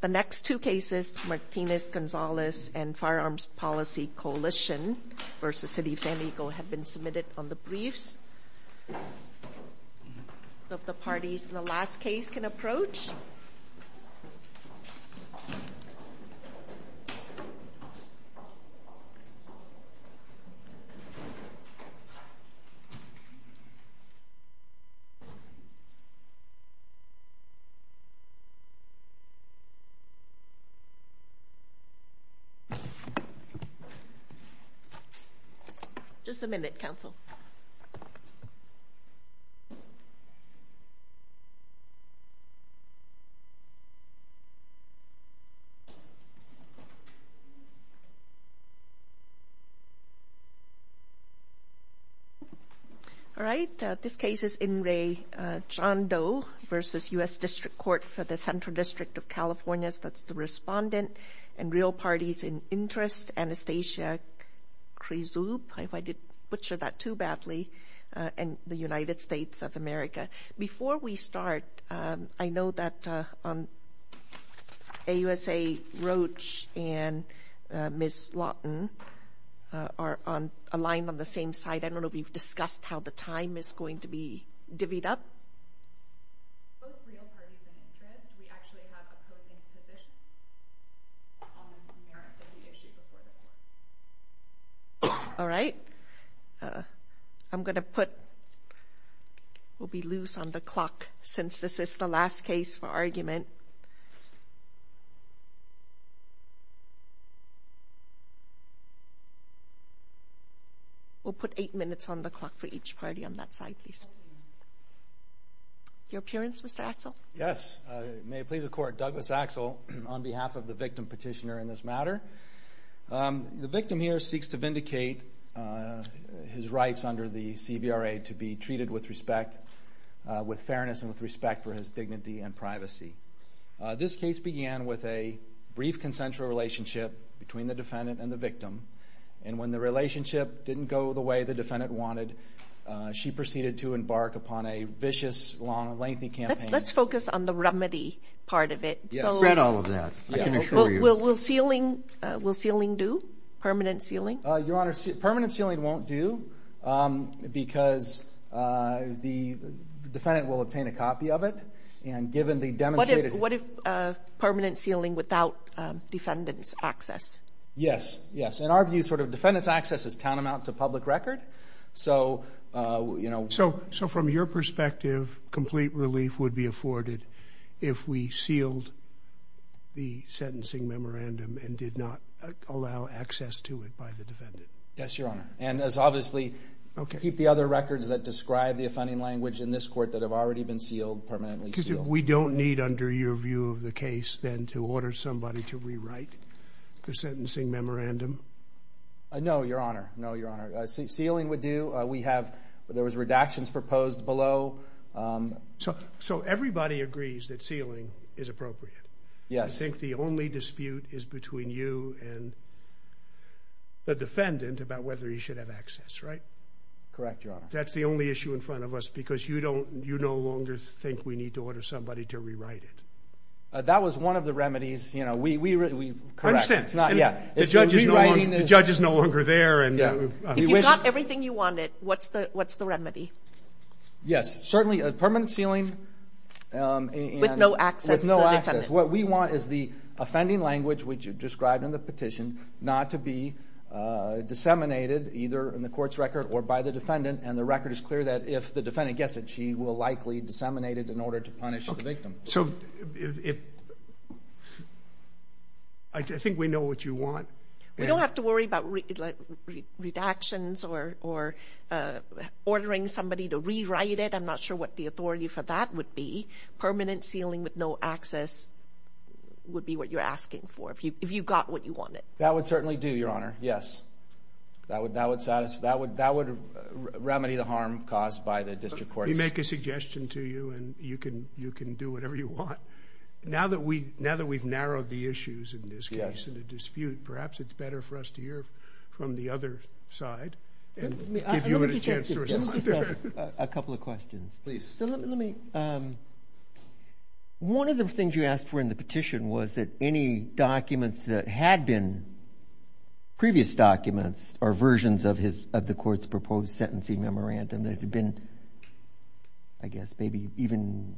The next two cases, Martinez-Gonzalez and Firearms Policy Coalition v. City of San Diego, have been submitted on the briefs. So if the parties in the last case can approach. Just a minute, counsel. All right. This case is In re. John Doe v. U.S. District Court for the Central District of California. That's the respondent. And real parties in interest, Anastasia Krizup. I did butcher that too badly. And the United States of America. Before we start, I know that on AUSA Roach and Ms. Lawton are aligned on the same side. I don't know if you've discussed how the time is going to be divvied up. Both real parties in interest. We actually have opposing positions on the merits of the issue before the court. All right. I'm going to put. We'll be loose on the clock since this is the last case for argument. We'll put eight minutes on the clock for each party on that side, please. Your appearance, Mr. Axel. Yes. May it please the court. Douglas Axel on behalf of the victim petitioner in this matter. The victim here seeks to vindicate his rights under the CVRA to be treated with respect, with fairness and with respect for his dignity and privacy. This case began with a brief consensual relationship between the defendant and the victim. And when the relationship didn't go the way the defendant wanted, she proceeded to embark upon a vicious, long, lengthy campaign. Let's focus on the remedy part of it. I've read all of that. I can assure you. Will sealing do, permanent sealing? Your Honor, permanent sealing won't do because the defendant will obtain a copy of it. And given the demonstrated. What if permanent sealing without defendant's access? Yes, yes. In our view, sort of defendant's access is tantamount to public record. So, you know. So, from your perspective, complete relief would be afforded if we sealed the sentencing memorandum and did not allow access to it by the defendant? Yes, Your Honor. And as obviously, keep the other records that describe the offending language in this court that have already been sealed, permanently sealed. We don't need, under your view of the case, then to order somebody to rewrite the sentencing memorandum? No, Your Honor. No, Your Honor. Sealing would do. We have, there was redactions proposed below. So, everybody agrees that sealing is appropriate? Yes. I think the only dispute is between you and the defendant about whether he should have access, right? Correct, Your Honor. That's the only issue in front of us because you don't, you no longer think we need to order somebody to rewrite it? That was one of the remedies, you know. We, we, we. I understand. It's not, yeah. The judge is no longer there. If you got everything you wanted, what's the, what's the remedy? Yes, certainly a permanent sealing. With no access to the defendant? What we want is the offending language which you described in the petition not to be disseminated either in the court's record or by the defendant. And the record is clear that if the defendant gets it, she will likely disseminate it in order to punish the victim. So, if, I think we know what you want. We don't have to worry about redactions or, or ordering somebody to rewrite it. I'm not sure what the authority for that would be. Permanent sealing with no access would be what you're asking for if you, if you got what you wanted. That would certainly do, Your Honor. Yes. That would, that would satisfy, that would, that would remedy the harm caused by the district courts. Let me make a suggestion to you and you can, you can do whatever you want. Now that we, now that we've narrowed the issues in this case, in the dispute, perhaps it's better for us to hear from the other side and give you a chance to respond. Let me just ask a couple of questions, please. So, let me, let me, one of the things you asked for in the petition was that any documents that had been previous documents or versions of his, of the court's proposed sentencing memorandum that had been, I guess, maybe even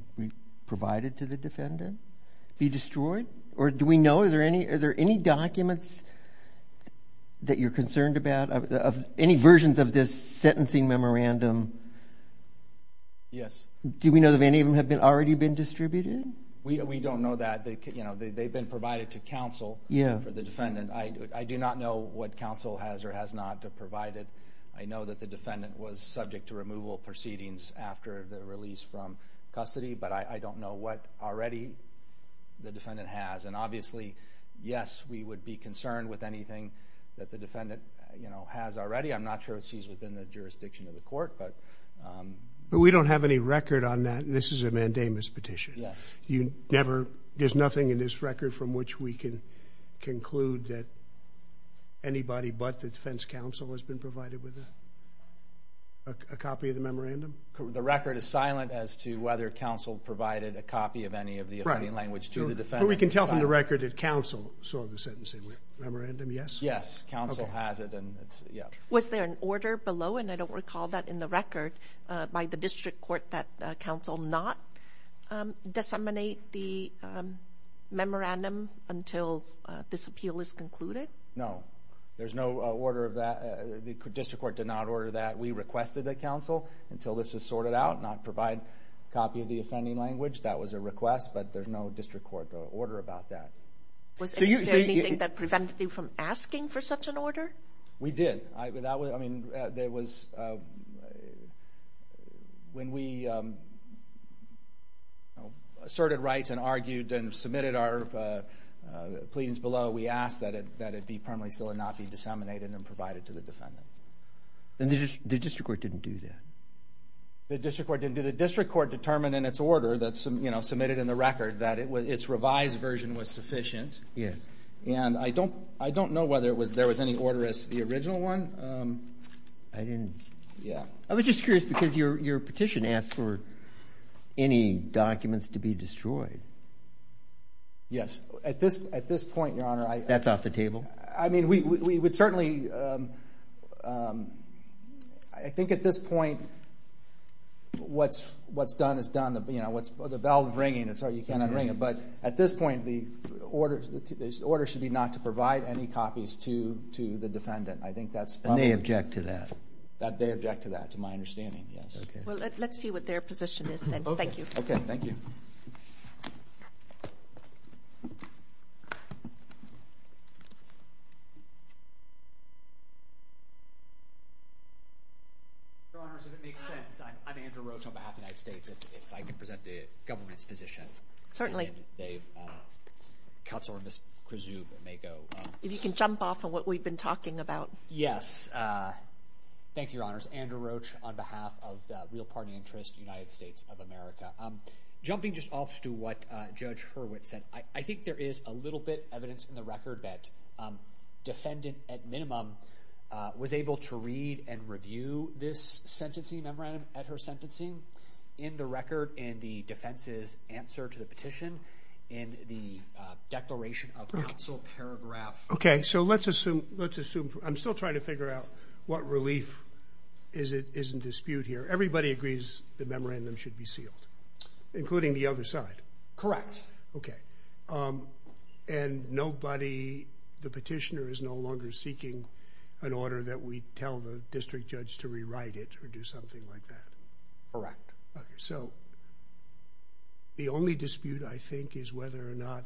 provided to the defendant be destroyed? Or do we know, are there any, are there any documents that you're concerned about, of any versions of this sentencing memorandum? Yes. Do we know if any of them have been, already been distributed? We, we don't know that. They, you know, they, they've been provided to counsel. Yeah. For the defendant. I, I do not know what counsel has or has not provided. I know that the defendant was subject to removal proceedings after the release from custody, but I, I don't know what already the defendant has. And obviously, yes, we would be concerned with anything that the defendant, you know, has already. I'm not sure if she's within the jurisdiction of the court, but. But we don't have any record on that. This is a mandamus petition. Yes. You never, there's nothing in this record from which we can conclude that anybody but the defense counsel has been provided with a, a copy of the memorandum? The record is silent as to whether counsel provided a copy of any of the affidavit. To the defendant. But we can tell from the record that counsel saw the sentencing memorandum, yes? Yes. Counsel has it, and it's, yeah. Was there an order below, and I don't recall that in the record, by the district court that counsel not disseminate the memorandum until this appeal is concluded? No. There's no order of that. The district court did not order that. We requested that counsel, until this was sorted out, not provide a copy of the offending language. That was a request, but there's no district court order about that. Was there anything that prevented you from asking for such an order? We did. I, that was, I mean, there was, when we, you know, asserted rights and argued and submitted our pleadings below, we asked that it be permanently sealed and not be disseminated and provided to the defendant. And the district court didn't do that? The district court didn't do that. The district court determined in its order that, you know, submitted in the record that its revised version was sufficient. Yes. And I don't, I don't know whether it was, there was any order as to the original one. I didn't. Yeah. I was just curious, because your petition asked for any documents to be destroyed. Yes. At this, at this point, Your Honor, I. That's off the table? I mean, we would certainly, I think at this point, what's done is done. You know, the bell is ringing, and so you can't unring it. But at this point, the order should be not to provide any copies to the defendant. I think that's. And they object to that? They object to that, to my understanding, yes. Okay. Well, let's see what their position is then. Okay. Thank you. Okay, thank you. Your Honors, if it makes sense, I'm Andrew Roach on behalf of the United States. If I could present the government's position. And then they, Counselor Ms. Krizou may go. If you can jump off of what we've been talking about. Yes. Thank you, Your Honors. Andrew Roach on behalf of the real party interest, United States of America. Jumping just off to what Judge Hurwitz said, I think there is a little bit of evidence in the record that defendant at minimum was able to read and review this sentencing memorandum at her sentencing. In the record, in the defense's answer to the petition, in the declaration of counsel paragraph. Okay. So let's assume, let's assume, I'm still trying to figure out what relief is in dispute here. Everybody agrees the memorandum should be sealed, including the other side? Okay. And nobody, the petitioner is no longer seeking an order that we tell the district judge to rewrite it or do something like that? Correct. Okay. So the only dispute, I think, is whether or not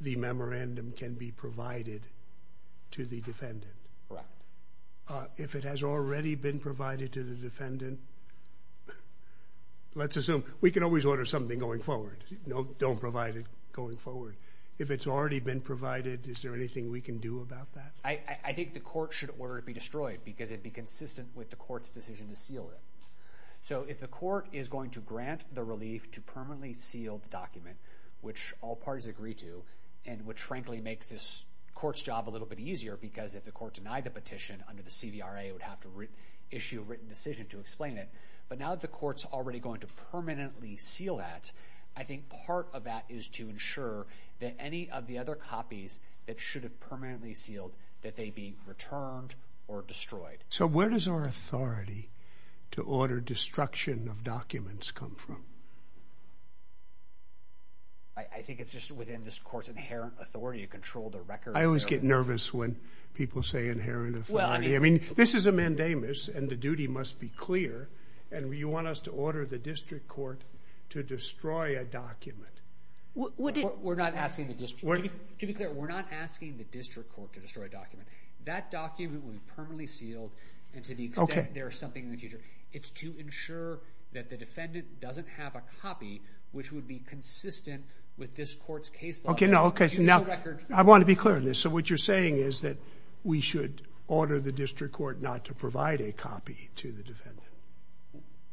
the memorandum can be provided to the defendant. Correct. If it has already been provided to the defendant, let's assume, we can always order something going forward. Don't provide it going forward. If it's already been provided, is there anything we can do about that? I think the court should order it be destroyed because it'd be consistent with the court's decision to seal it. So if the court is going to grant the relief to permanently seal the document, which all parties agree to, and which frankly makes this court's job a little bit easier because if the court denied the petition under the CVRA, it would have to issue a written decision to explain it. But now that the court's already going to permanently seal that, I think part of that is to ensure that any of the other copies that should have permanently sealed, that they be returned or destroyed. So where does our authority to order destruction of documents come from? I think it's just within this court's inherent authority to control the records. I always get nervous when people say inherent authority. I mean, this is a mandamus, and the duty must be clear. And you want us to order the district court to destroy a document. We're not asking the district court. To be clear, we're not asking the district court to destroy a document. That document will be permanently sealed, and to the extent there is something in the future, it's to ensure that the defendant doesn't have a copy which would be consistent with this court's case law. Okay, now I want to be clear on this. So what you're saying is that we should order the district court not to provide a copy to the defendant?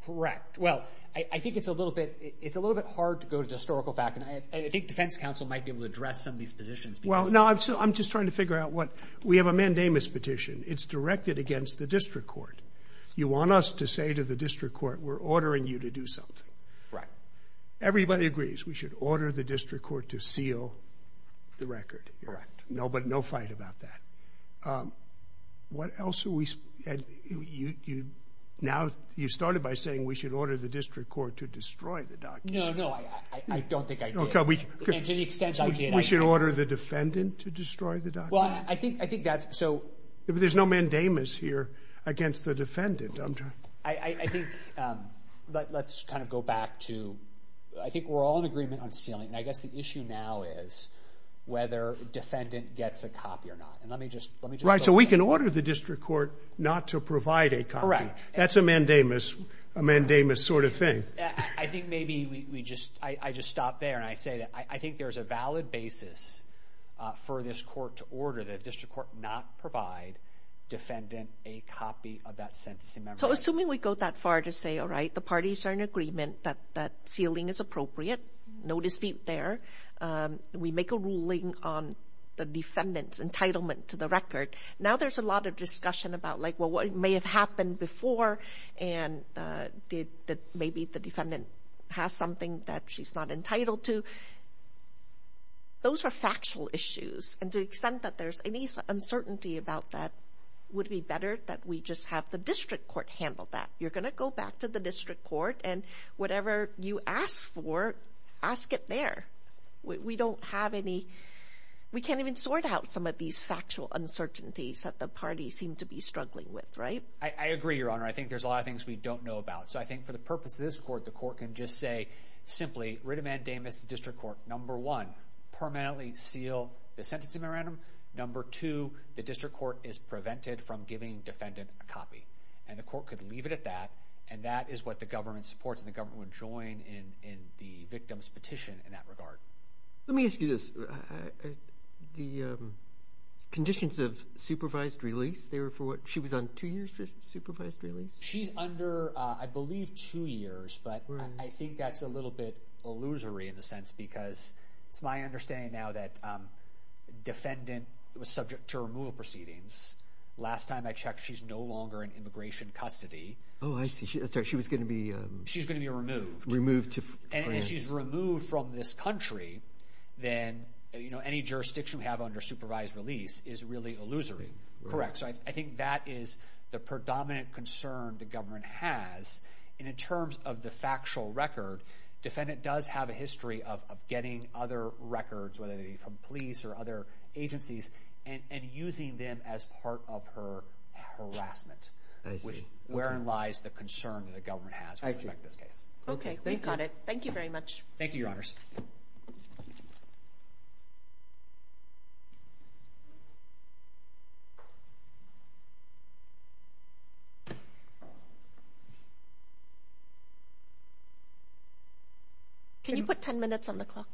Correct. Well, I think it's a little bit hard to go to the historical fact, and I think defense counsel might be able to address some of these positions. Well, no, I'm just trying to figure out what. We have a mandamus petition. It's directed against the district court. You want us to say to the district court, we're ordering you to do something. Right. Everybody agrees we should order the district court to seal the record. Correct. But no fight about that. What else are we? Now you started by saying we should order the district court to destroy the document. No, no, I don't think I did. To the extent I did, I did. We should order the defendant to destroy the document? Well, I think that's so. There's no mandamus here against the defendant. I think let's kind of go back to I think we're all in agreement on sealing, and I guess the issue now is whether defendant gets a copy or not, and let me just. Right, so we can order the district court not to provide a copy. That's a mandamus sort of thing. I think maybe I just stopped there and I say that I think there's a valid basis for this court to order the district court not provide defendant a copy of that sentencing memo. So assuming we go that far to say, all right, the parties are in agreement that sealing is appropriate, no dispute there. We make a ruling on the defendant's entitlement to the record. Now there's a lot of discussion about, like, well, what may have happened before and maybe the defendant has something that she's not entitled to. Those are factual issues, and to the extent that there's any uncertainty about that, would it be better that we just have the district court handle that? You're going to go back to the district court and whatever you ask for, ask it there. We don't have any. We can't even sort out some of these factual uncertainties that the parties seem to be struggling with, right? I agree, Your Honor. I think there's a lot of things we don't know about. So I think for the purpose of this court, the court can just say simply, writ of mandamus to the district court, number one, permanently seal the sentencing memorandum. Number two, the district court is prevented from giving defendant a copy. And the court could leave it at that, and that is what the government supports and the government would join in the victim's petition in that regard. Let me ask you this. The conditions of supervised release, she was on two years for supervised release? She's under, I believe, two years, but I think that's a little bit illusory in a sense because it's my understanding now that defendant was subject to removal proceedings. Last time I checked, she's no longer in immigration custody. Oh, I see. She was going to be removed. And if she's removed from this country, then any jurisdiction we have under supervised release is really illusory. Correct. So I think that is the predominant concern the government has. And in terms of the factual record, defendant does have a history of getting other records, whether they be from police or other agencies, and using them as part of her harassment, wherein lies the concern that the government has with respect to this case. Okay, we've got it. Thank you very much. Thank you, Your Honors. Can you put 10 minutes on the clock?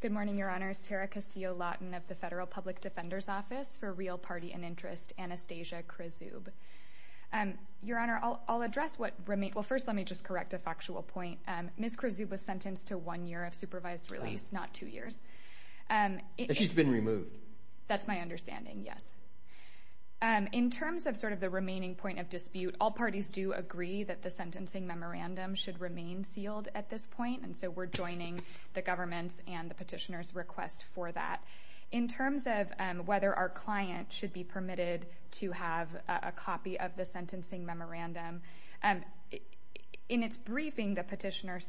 Good morning, Your Honors. My name is Tara Castillo-Lawton of the Federal Public Defender's Office for Real Party and Interest, Anastasia Krizoub. Your Honor, I'll address what remains. Well, first let me just correct a factual point. Ms. Krizoub was sentenced to one year of supervised release, not two years. She's been removed. That's my understanding, yes. In terms of sort of the remaining point of dispute, all parties do agree that the sentencing memorandum should remain sealed at this point, and so we're joining the government's and the petitioner's request for that. In terms of whether our client should be permitted to have a copy of the sentencing memorandum, in its briefing the petitioner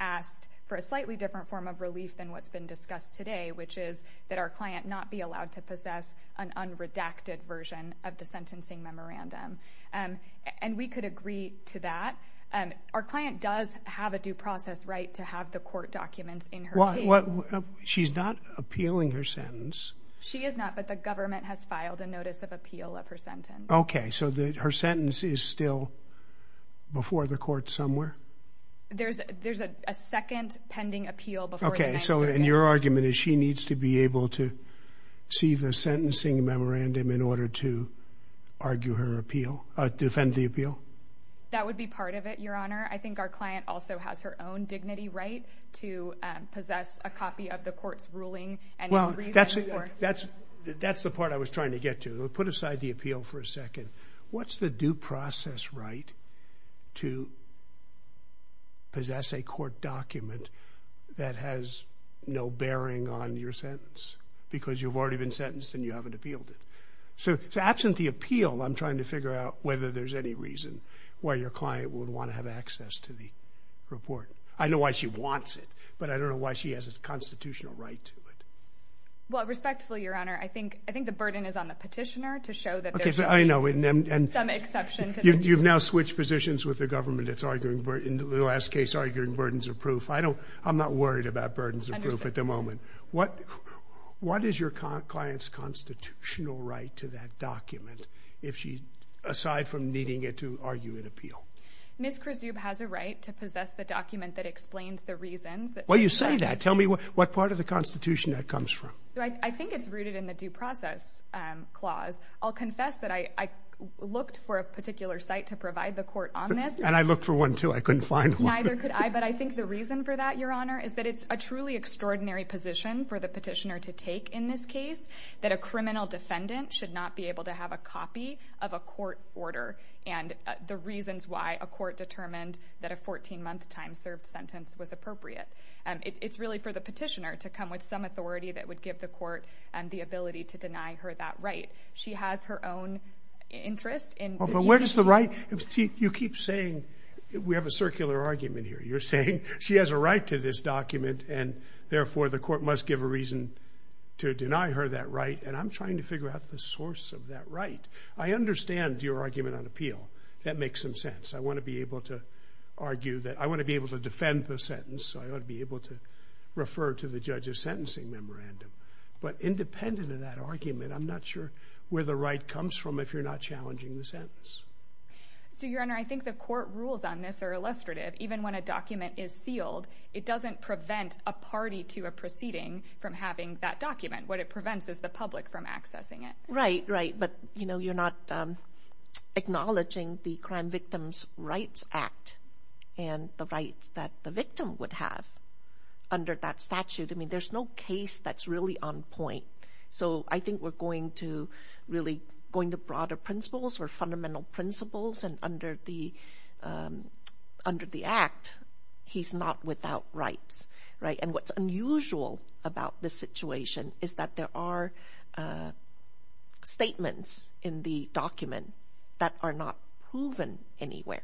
asked for a slightly different form of relief than what's been discussed today, which is that our client not be allowed to possess an unredacted version of the sentencing memorandum. And we could agree to that. Our client does have a due process right to have the court documents in her case. She's not appealing her sentence. She is not, but the government has filed a notice of appeal of her sentence. Okay, so her sentence is still before the court somewhere? There's a second pending appeal before the 9th Circuit. Okay, so your argument is she needs to be able to see the sentencing memorandum in order to argue her appeal, defend the appeal? That would be part of it, Your Honor. I think our client also has her own dignity right to possess a copy of the court's ruling. Well, that's the part I was trying to get to. Put aside the appeal for a second. What's the due process right to possess a court document that has no bearing on your sentence because you've already been sentenced and you haven't appealed it? So absent the appeal, I'm trying to figure out whether there's any reason why your client would want to have access to the report. I know why she wants it, but I don't know why she has a constitutional right to it. Well, respectfully, Your Honor, I think the burden is on the petitioner to show that there's some exception. You've now switched positions with the government. It's arguing, in the last case, arguing burdens of proof. I'm not worried about burdens of proof at the moment. What is your client's constitutional right to that document, aside from needing it to argue an appeal? Ms. Krizoub has a right to possess the document that explains the reasons. Well, you say that. Tell me what part of the Constitution that comes from. I think it's rooted in the due process clause. I'll confess that I looked for a particular site to provide the court on this. And I looked for one, too. I couldn't find one. Neither could I, but I think the reason for that, Your Honor, is that it's a truly extraordinary position for the petitioner to take in this case, that a criminal defendant should not be able to have a copy of a court order and the reasons why a court determined that a 14-month time served sentence was appropriate. It's really for the petitioner to come with some authority that would give the court the ability to deny her that right. She has her own interest in— You keep saying—we have a circular argument here. You're saying she has a right to this document and, therefore, the court must give a reason to deny her that right, and I'm trying to figure out the source of that right. I understand your argument on appeal. That makes some sense. I want to be able to argue that—I want to be able to defend the sentence, so I ought to be able to refer to the judge's sentencing memorandum. But independent of that argument, I'm not sure where the right comes from if you're not challenging the sentence. So, Your Honor, I think the court rules on this are illustrative. Even when a document is sealed, it doesn't prevent a party to a proceeding from having that document. What it prevents is the public from accessing it. Right, right, but, you know, you're not acknowledging the Crime Victims' Rights Act and the rights that the victim would have under that statute. I mean, there's no case that's really on point. So I think we're going to really—going to broader principles or fundamental principles, and under the Act, he's not without rights, right? And what's unusual about this situation is that there are statements in the document that are not proven anywhere.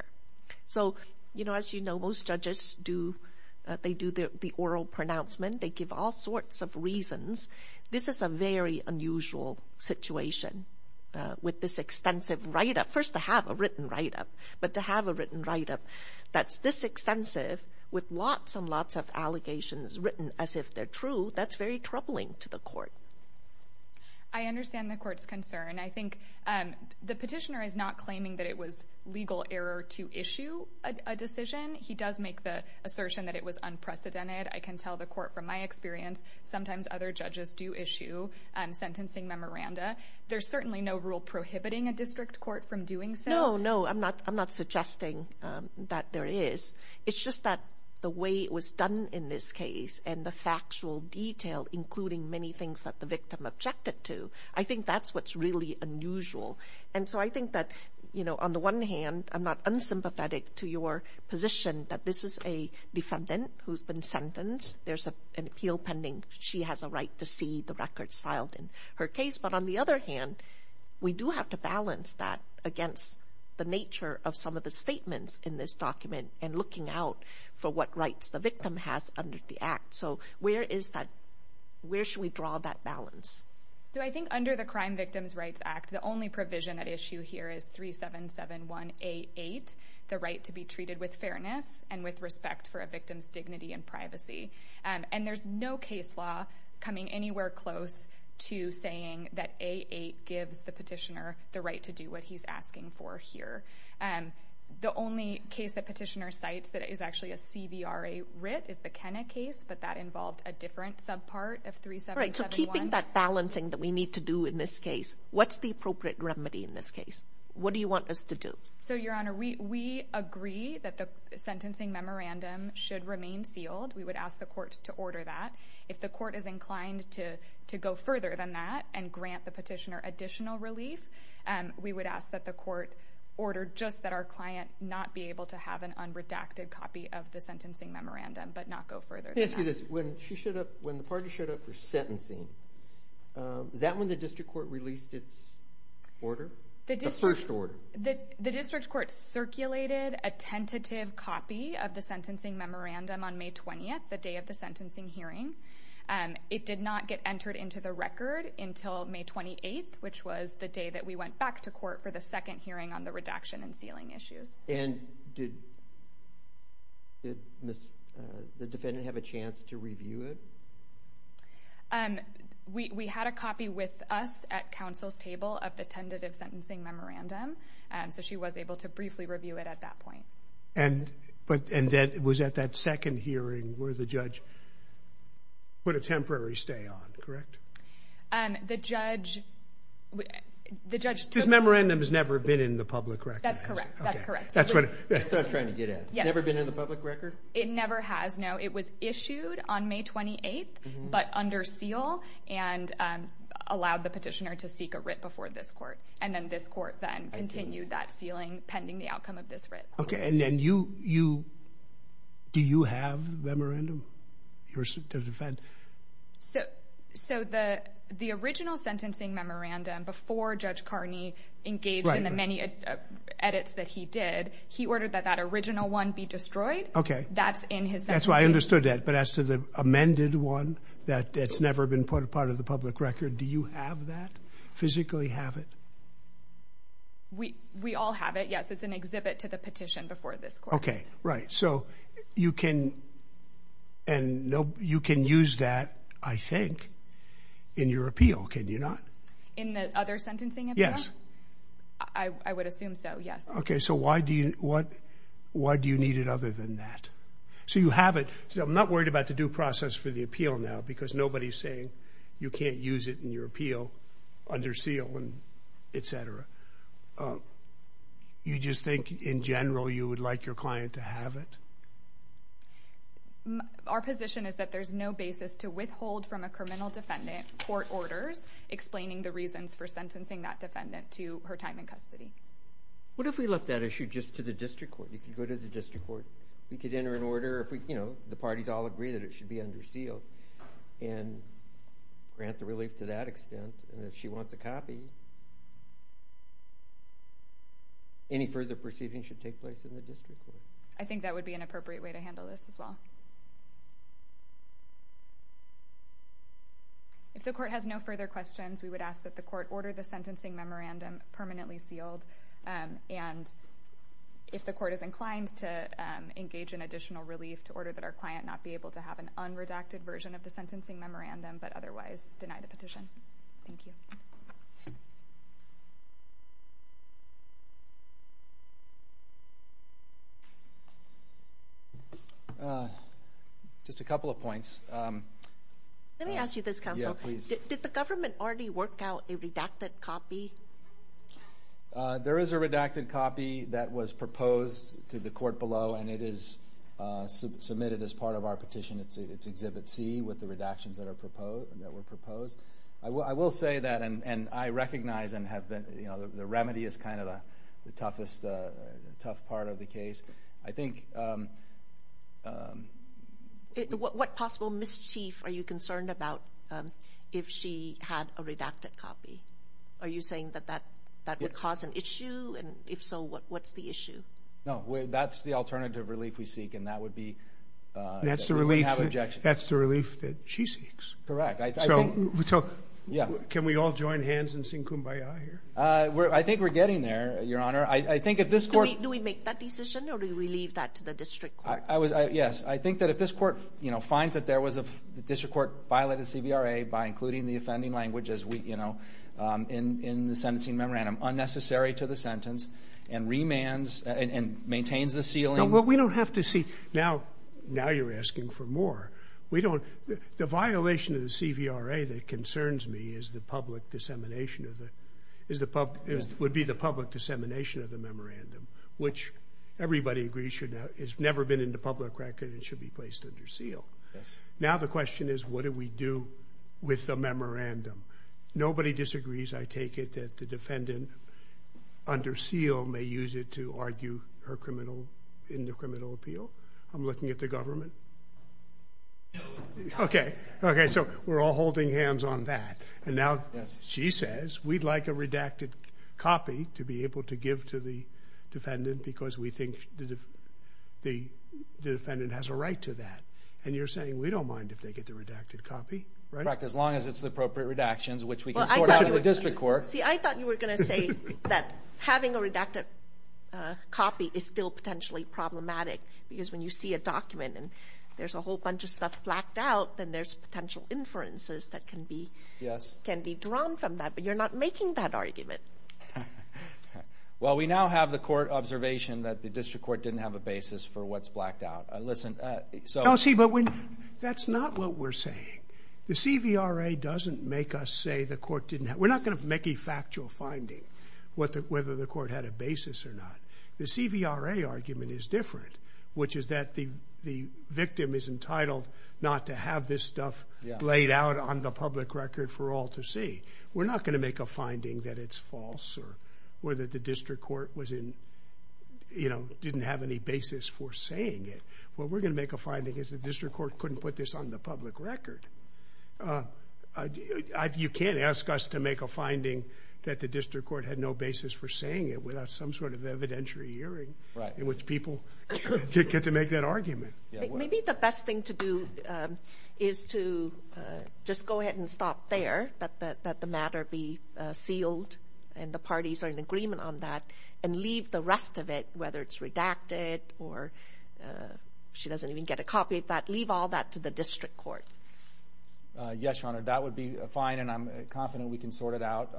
So, you know, as you know, most judges do—they do the oral pronouncement. They give all sorts of reasons. This is a very unusual situation with this extensive write-up. First, to have a written write-up, but to have a written write-up that's this extensive with lots and lots of allegations written as if they're true, that's very troubling to the court. I understand the court's concern. I think the petitioner is not claiming that it was legal error to issue a decision. He does make the assertion that it was unprecedented. I can tell the court from my experience, sometimes other judges do issue sentencing memoranda. There's certainly no rule prohibiting a district court from doing so. No, no, I'm not suggesting that there is. It's just that the way it was done in this case and the factual detail, including many things that the victim objected to, I think that's what's really unusual. And so I think that, you know, on the one hand, I'm not unsympathetic to your position that this is a defendant who's been sentenced. There's an appeal pending. She has a right to see the records filed in her case. But on the other hand, we do have to balance that against the nature of some of the statements in this document and looking out for what rights the victim has under the Act. So where is that? Where should we draw that balance? So I think under the Crime Victims' Rights Act, the only provision at issue here is 377188, the right to be treated with fairness and with respect for a victim's dignity and privacy. And there's no case law coming anywhere close to saying that A8 gives the petitioner the right to do what he's asking for here. The only case the petitioner cites that is actually a CVRA writ is the Kenna case, but that involved a different subpart of 3771. All right, so keeping that balancing that we need to do in this case, what's the appropriate remedy in this case? What do you want us to do? So, Your Honor, we agree that the sentencing memorandum should remain sealed. We would ask the court to order that. If the court is inclined to go further than that and grant the petitioner additional relief, we would ask that the court order just that our client not be able to have an unredacted copy of the sentencing memorandum, but not go further than that. Let me ask you this. When the parties showed up for sentencing, is that when the district court released its order, the first order? The district court circulated a tentative copy of the sentencing memorandum on May 20th, the day of the sentencing hearing. It did not get entered into the record until May 28th, which was the day that we went back to court for the second hearing on the redaction and sealing issues. And did the defendant have a chance to review it? We had a copy with us at counsel's table of the tentative sentencing memorandum, so she was able to briefly review it at that point. And was at that second hearing where the judge put a temporary stay on, correct? The judge took... This memorandum has never been in the public record. That's correct. That's what I was trying to get at. It's never been in the public record? It never has, no. It was issued on May 28th, but under seal, and allowed the petitioner to seek a writ before this court. And then this court then continued that sealing pending the outcome of this writ. Okay, and then you... Do you have the memorandum? So the original sentencing memorandum, before Judge Carney engaged in the many edits that he did, he ordered that that original one be destroyed. Okay. That's in his sentencing. That's why I understood that, but as to the amended one that's never been put in part of the public record, do you have that, physically have it? We all have it, yes. It's an exhibit to the petition before this court. Okay, right. So you can use that, I think, in your appeal, can you not? In the other sentencing appeal? Yes. I would assume so, yes. Okay, so why do you need it other than that? So you have it. I'm not worried about the due process for the appeal now, because nobody's saying you can't use it in your appeal under seal, et cetera. You just think, in general, you would like your client to have it? Our position is that there's no basis to withhold from a criminal defendant court orders explaining the reasons for sentencing that defendant to her time in custody. What if we left that issue just to the district court? You could go to the district court. We could enter an order if the parties all agree that it should be under seal and grant the relief to that extent, and if she wants a copy, any further proceedings should take place in the district court. I think that would be an appropriate way to handle this as well. If the court has no further questions, we would ask that the court order the sentencing memorandum permanently sealed, and if the court is inclined to engage in additional relief to order that our client not be able to have an unredacted version of the sentencing memorandum, but otherwise deny the petition. Thank you. Just a couple of points. Let me ask you this, counsel. Yeah, please. Did the government already work out a redacted copy? There is a redacted copy that was proposed to the court below, and it is submitted as part of our petition. It's Exhibit C with the redactions that were proposed. I will say that, and I recognize the remedy is kind of the toughest part of the case. What possible mischief are you concerned about if she had a redacted copy? Are you saying that that would cause an issue? And if so, what's the issue? No, that's the alternative relief we seek, and that would be that we would have objection. That's the relief that she seeks. Correct. Can we all join hands and sing kumbaya here? I think we're getting there, Your Honor. Do we make that decision or do we leave that to the district court? Yes. I think that if this court, you know, finds that there was a district court violated CVRA by including the offending language, as we, you know, in the sentencing memorandum, unnecessary to the sentence and maintains the ceiling. No, but we don't have to see. Now you're asking for more. The violation of the CVRA that concerns me is the public dissemination, would be the public dissemination of the memorandum, which everybody agrees has never been in the public record and should be placed under seal. Now the question is what do we do with the memorandum? Nobody disagrees, I take it, that the defendant under seal may use it to argue her criminal appeal. I'm looking at the government. No. Okay, so we're all holding hands on that. And now she says we'd like a redacted copy to be able to give to the defendant because we think the defendant has a right to that. And you're saying we don't mind if they get the redacted copy, right? As long as it's the appropriate redactions, which we can sort out in the district court. See, I thought you were going to say that having a redacted copy is still potentially problematic because when you see a document and there's a whole bunch of stuff blacked out, then there's potential inferences that can be drawn from that. But you're not making that argument. Well, we now have the court observation that the district court didn't have a basis for what's blacked out. No, see, but that's not what we're saying. The CVRA doesn't make us say the court didn't have a basis. We're not going to make a factual finding whether the court had a basis or not. The CVRA argument is different, which is that the victim is entitled not to have this stuff laid out on the public record for all to see. We're not going to make a finding that it's false or that the district court didn't have any basis for saying it. What we're going to make a finding is the district court couldn't put this on the public record. You can't ask us to make a finding that the district court had no basis for saying it without some sort of evidentiary hearing in which people get to make that argument. Maybe the best thing to do is to just go ahead and stop there, let the matter be sealed and the parties are in agreement on that, and leave the rest of it, whether it's redacted or she doesn't even get a copy of that, leave all that to the district court. Yes, Your Honor, that would be fine, and I'm confident we can sort it out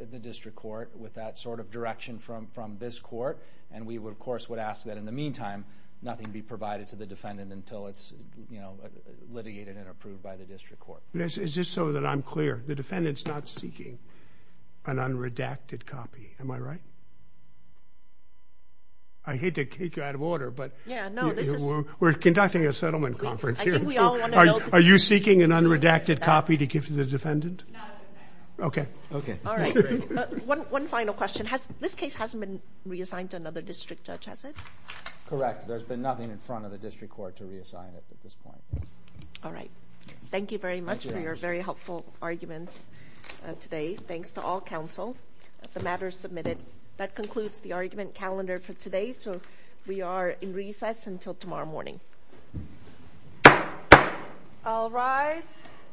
at the district court with that sort of direction from this court. We, of course, would ask that in the meantime, nothing be provided to the defendant until it's litigated and approved by the district court. Is it so that I'm clear? The defendant's not seeking an unredacted copy. Am I right? I hate to kick you out of order, but we're conducting a settlement conference here. Are you seeking an unredacted copy to give to the defendant? Okay. All right. One final question. This case hasn't been reassigned to another district judge, has it? Correct. There's been nothing in front of the district court to reassign it at this point. All right. Thank you very much for your very helpful arguments today. Thanks to all counsel. The matter is submitted. That concludes the argument calendar for today, so we are in recess until tomorrow morning. All rise.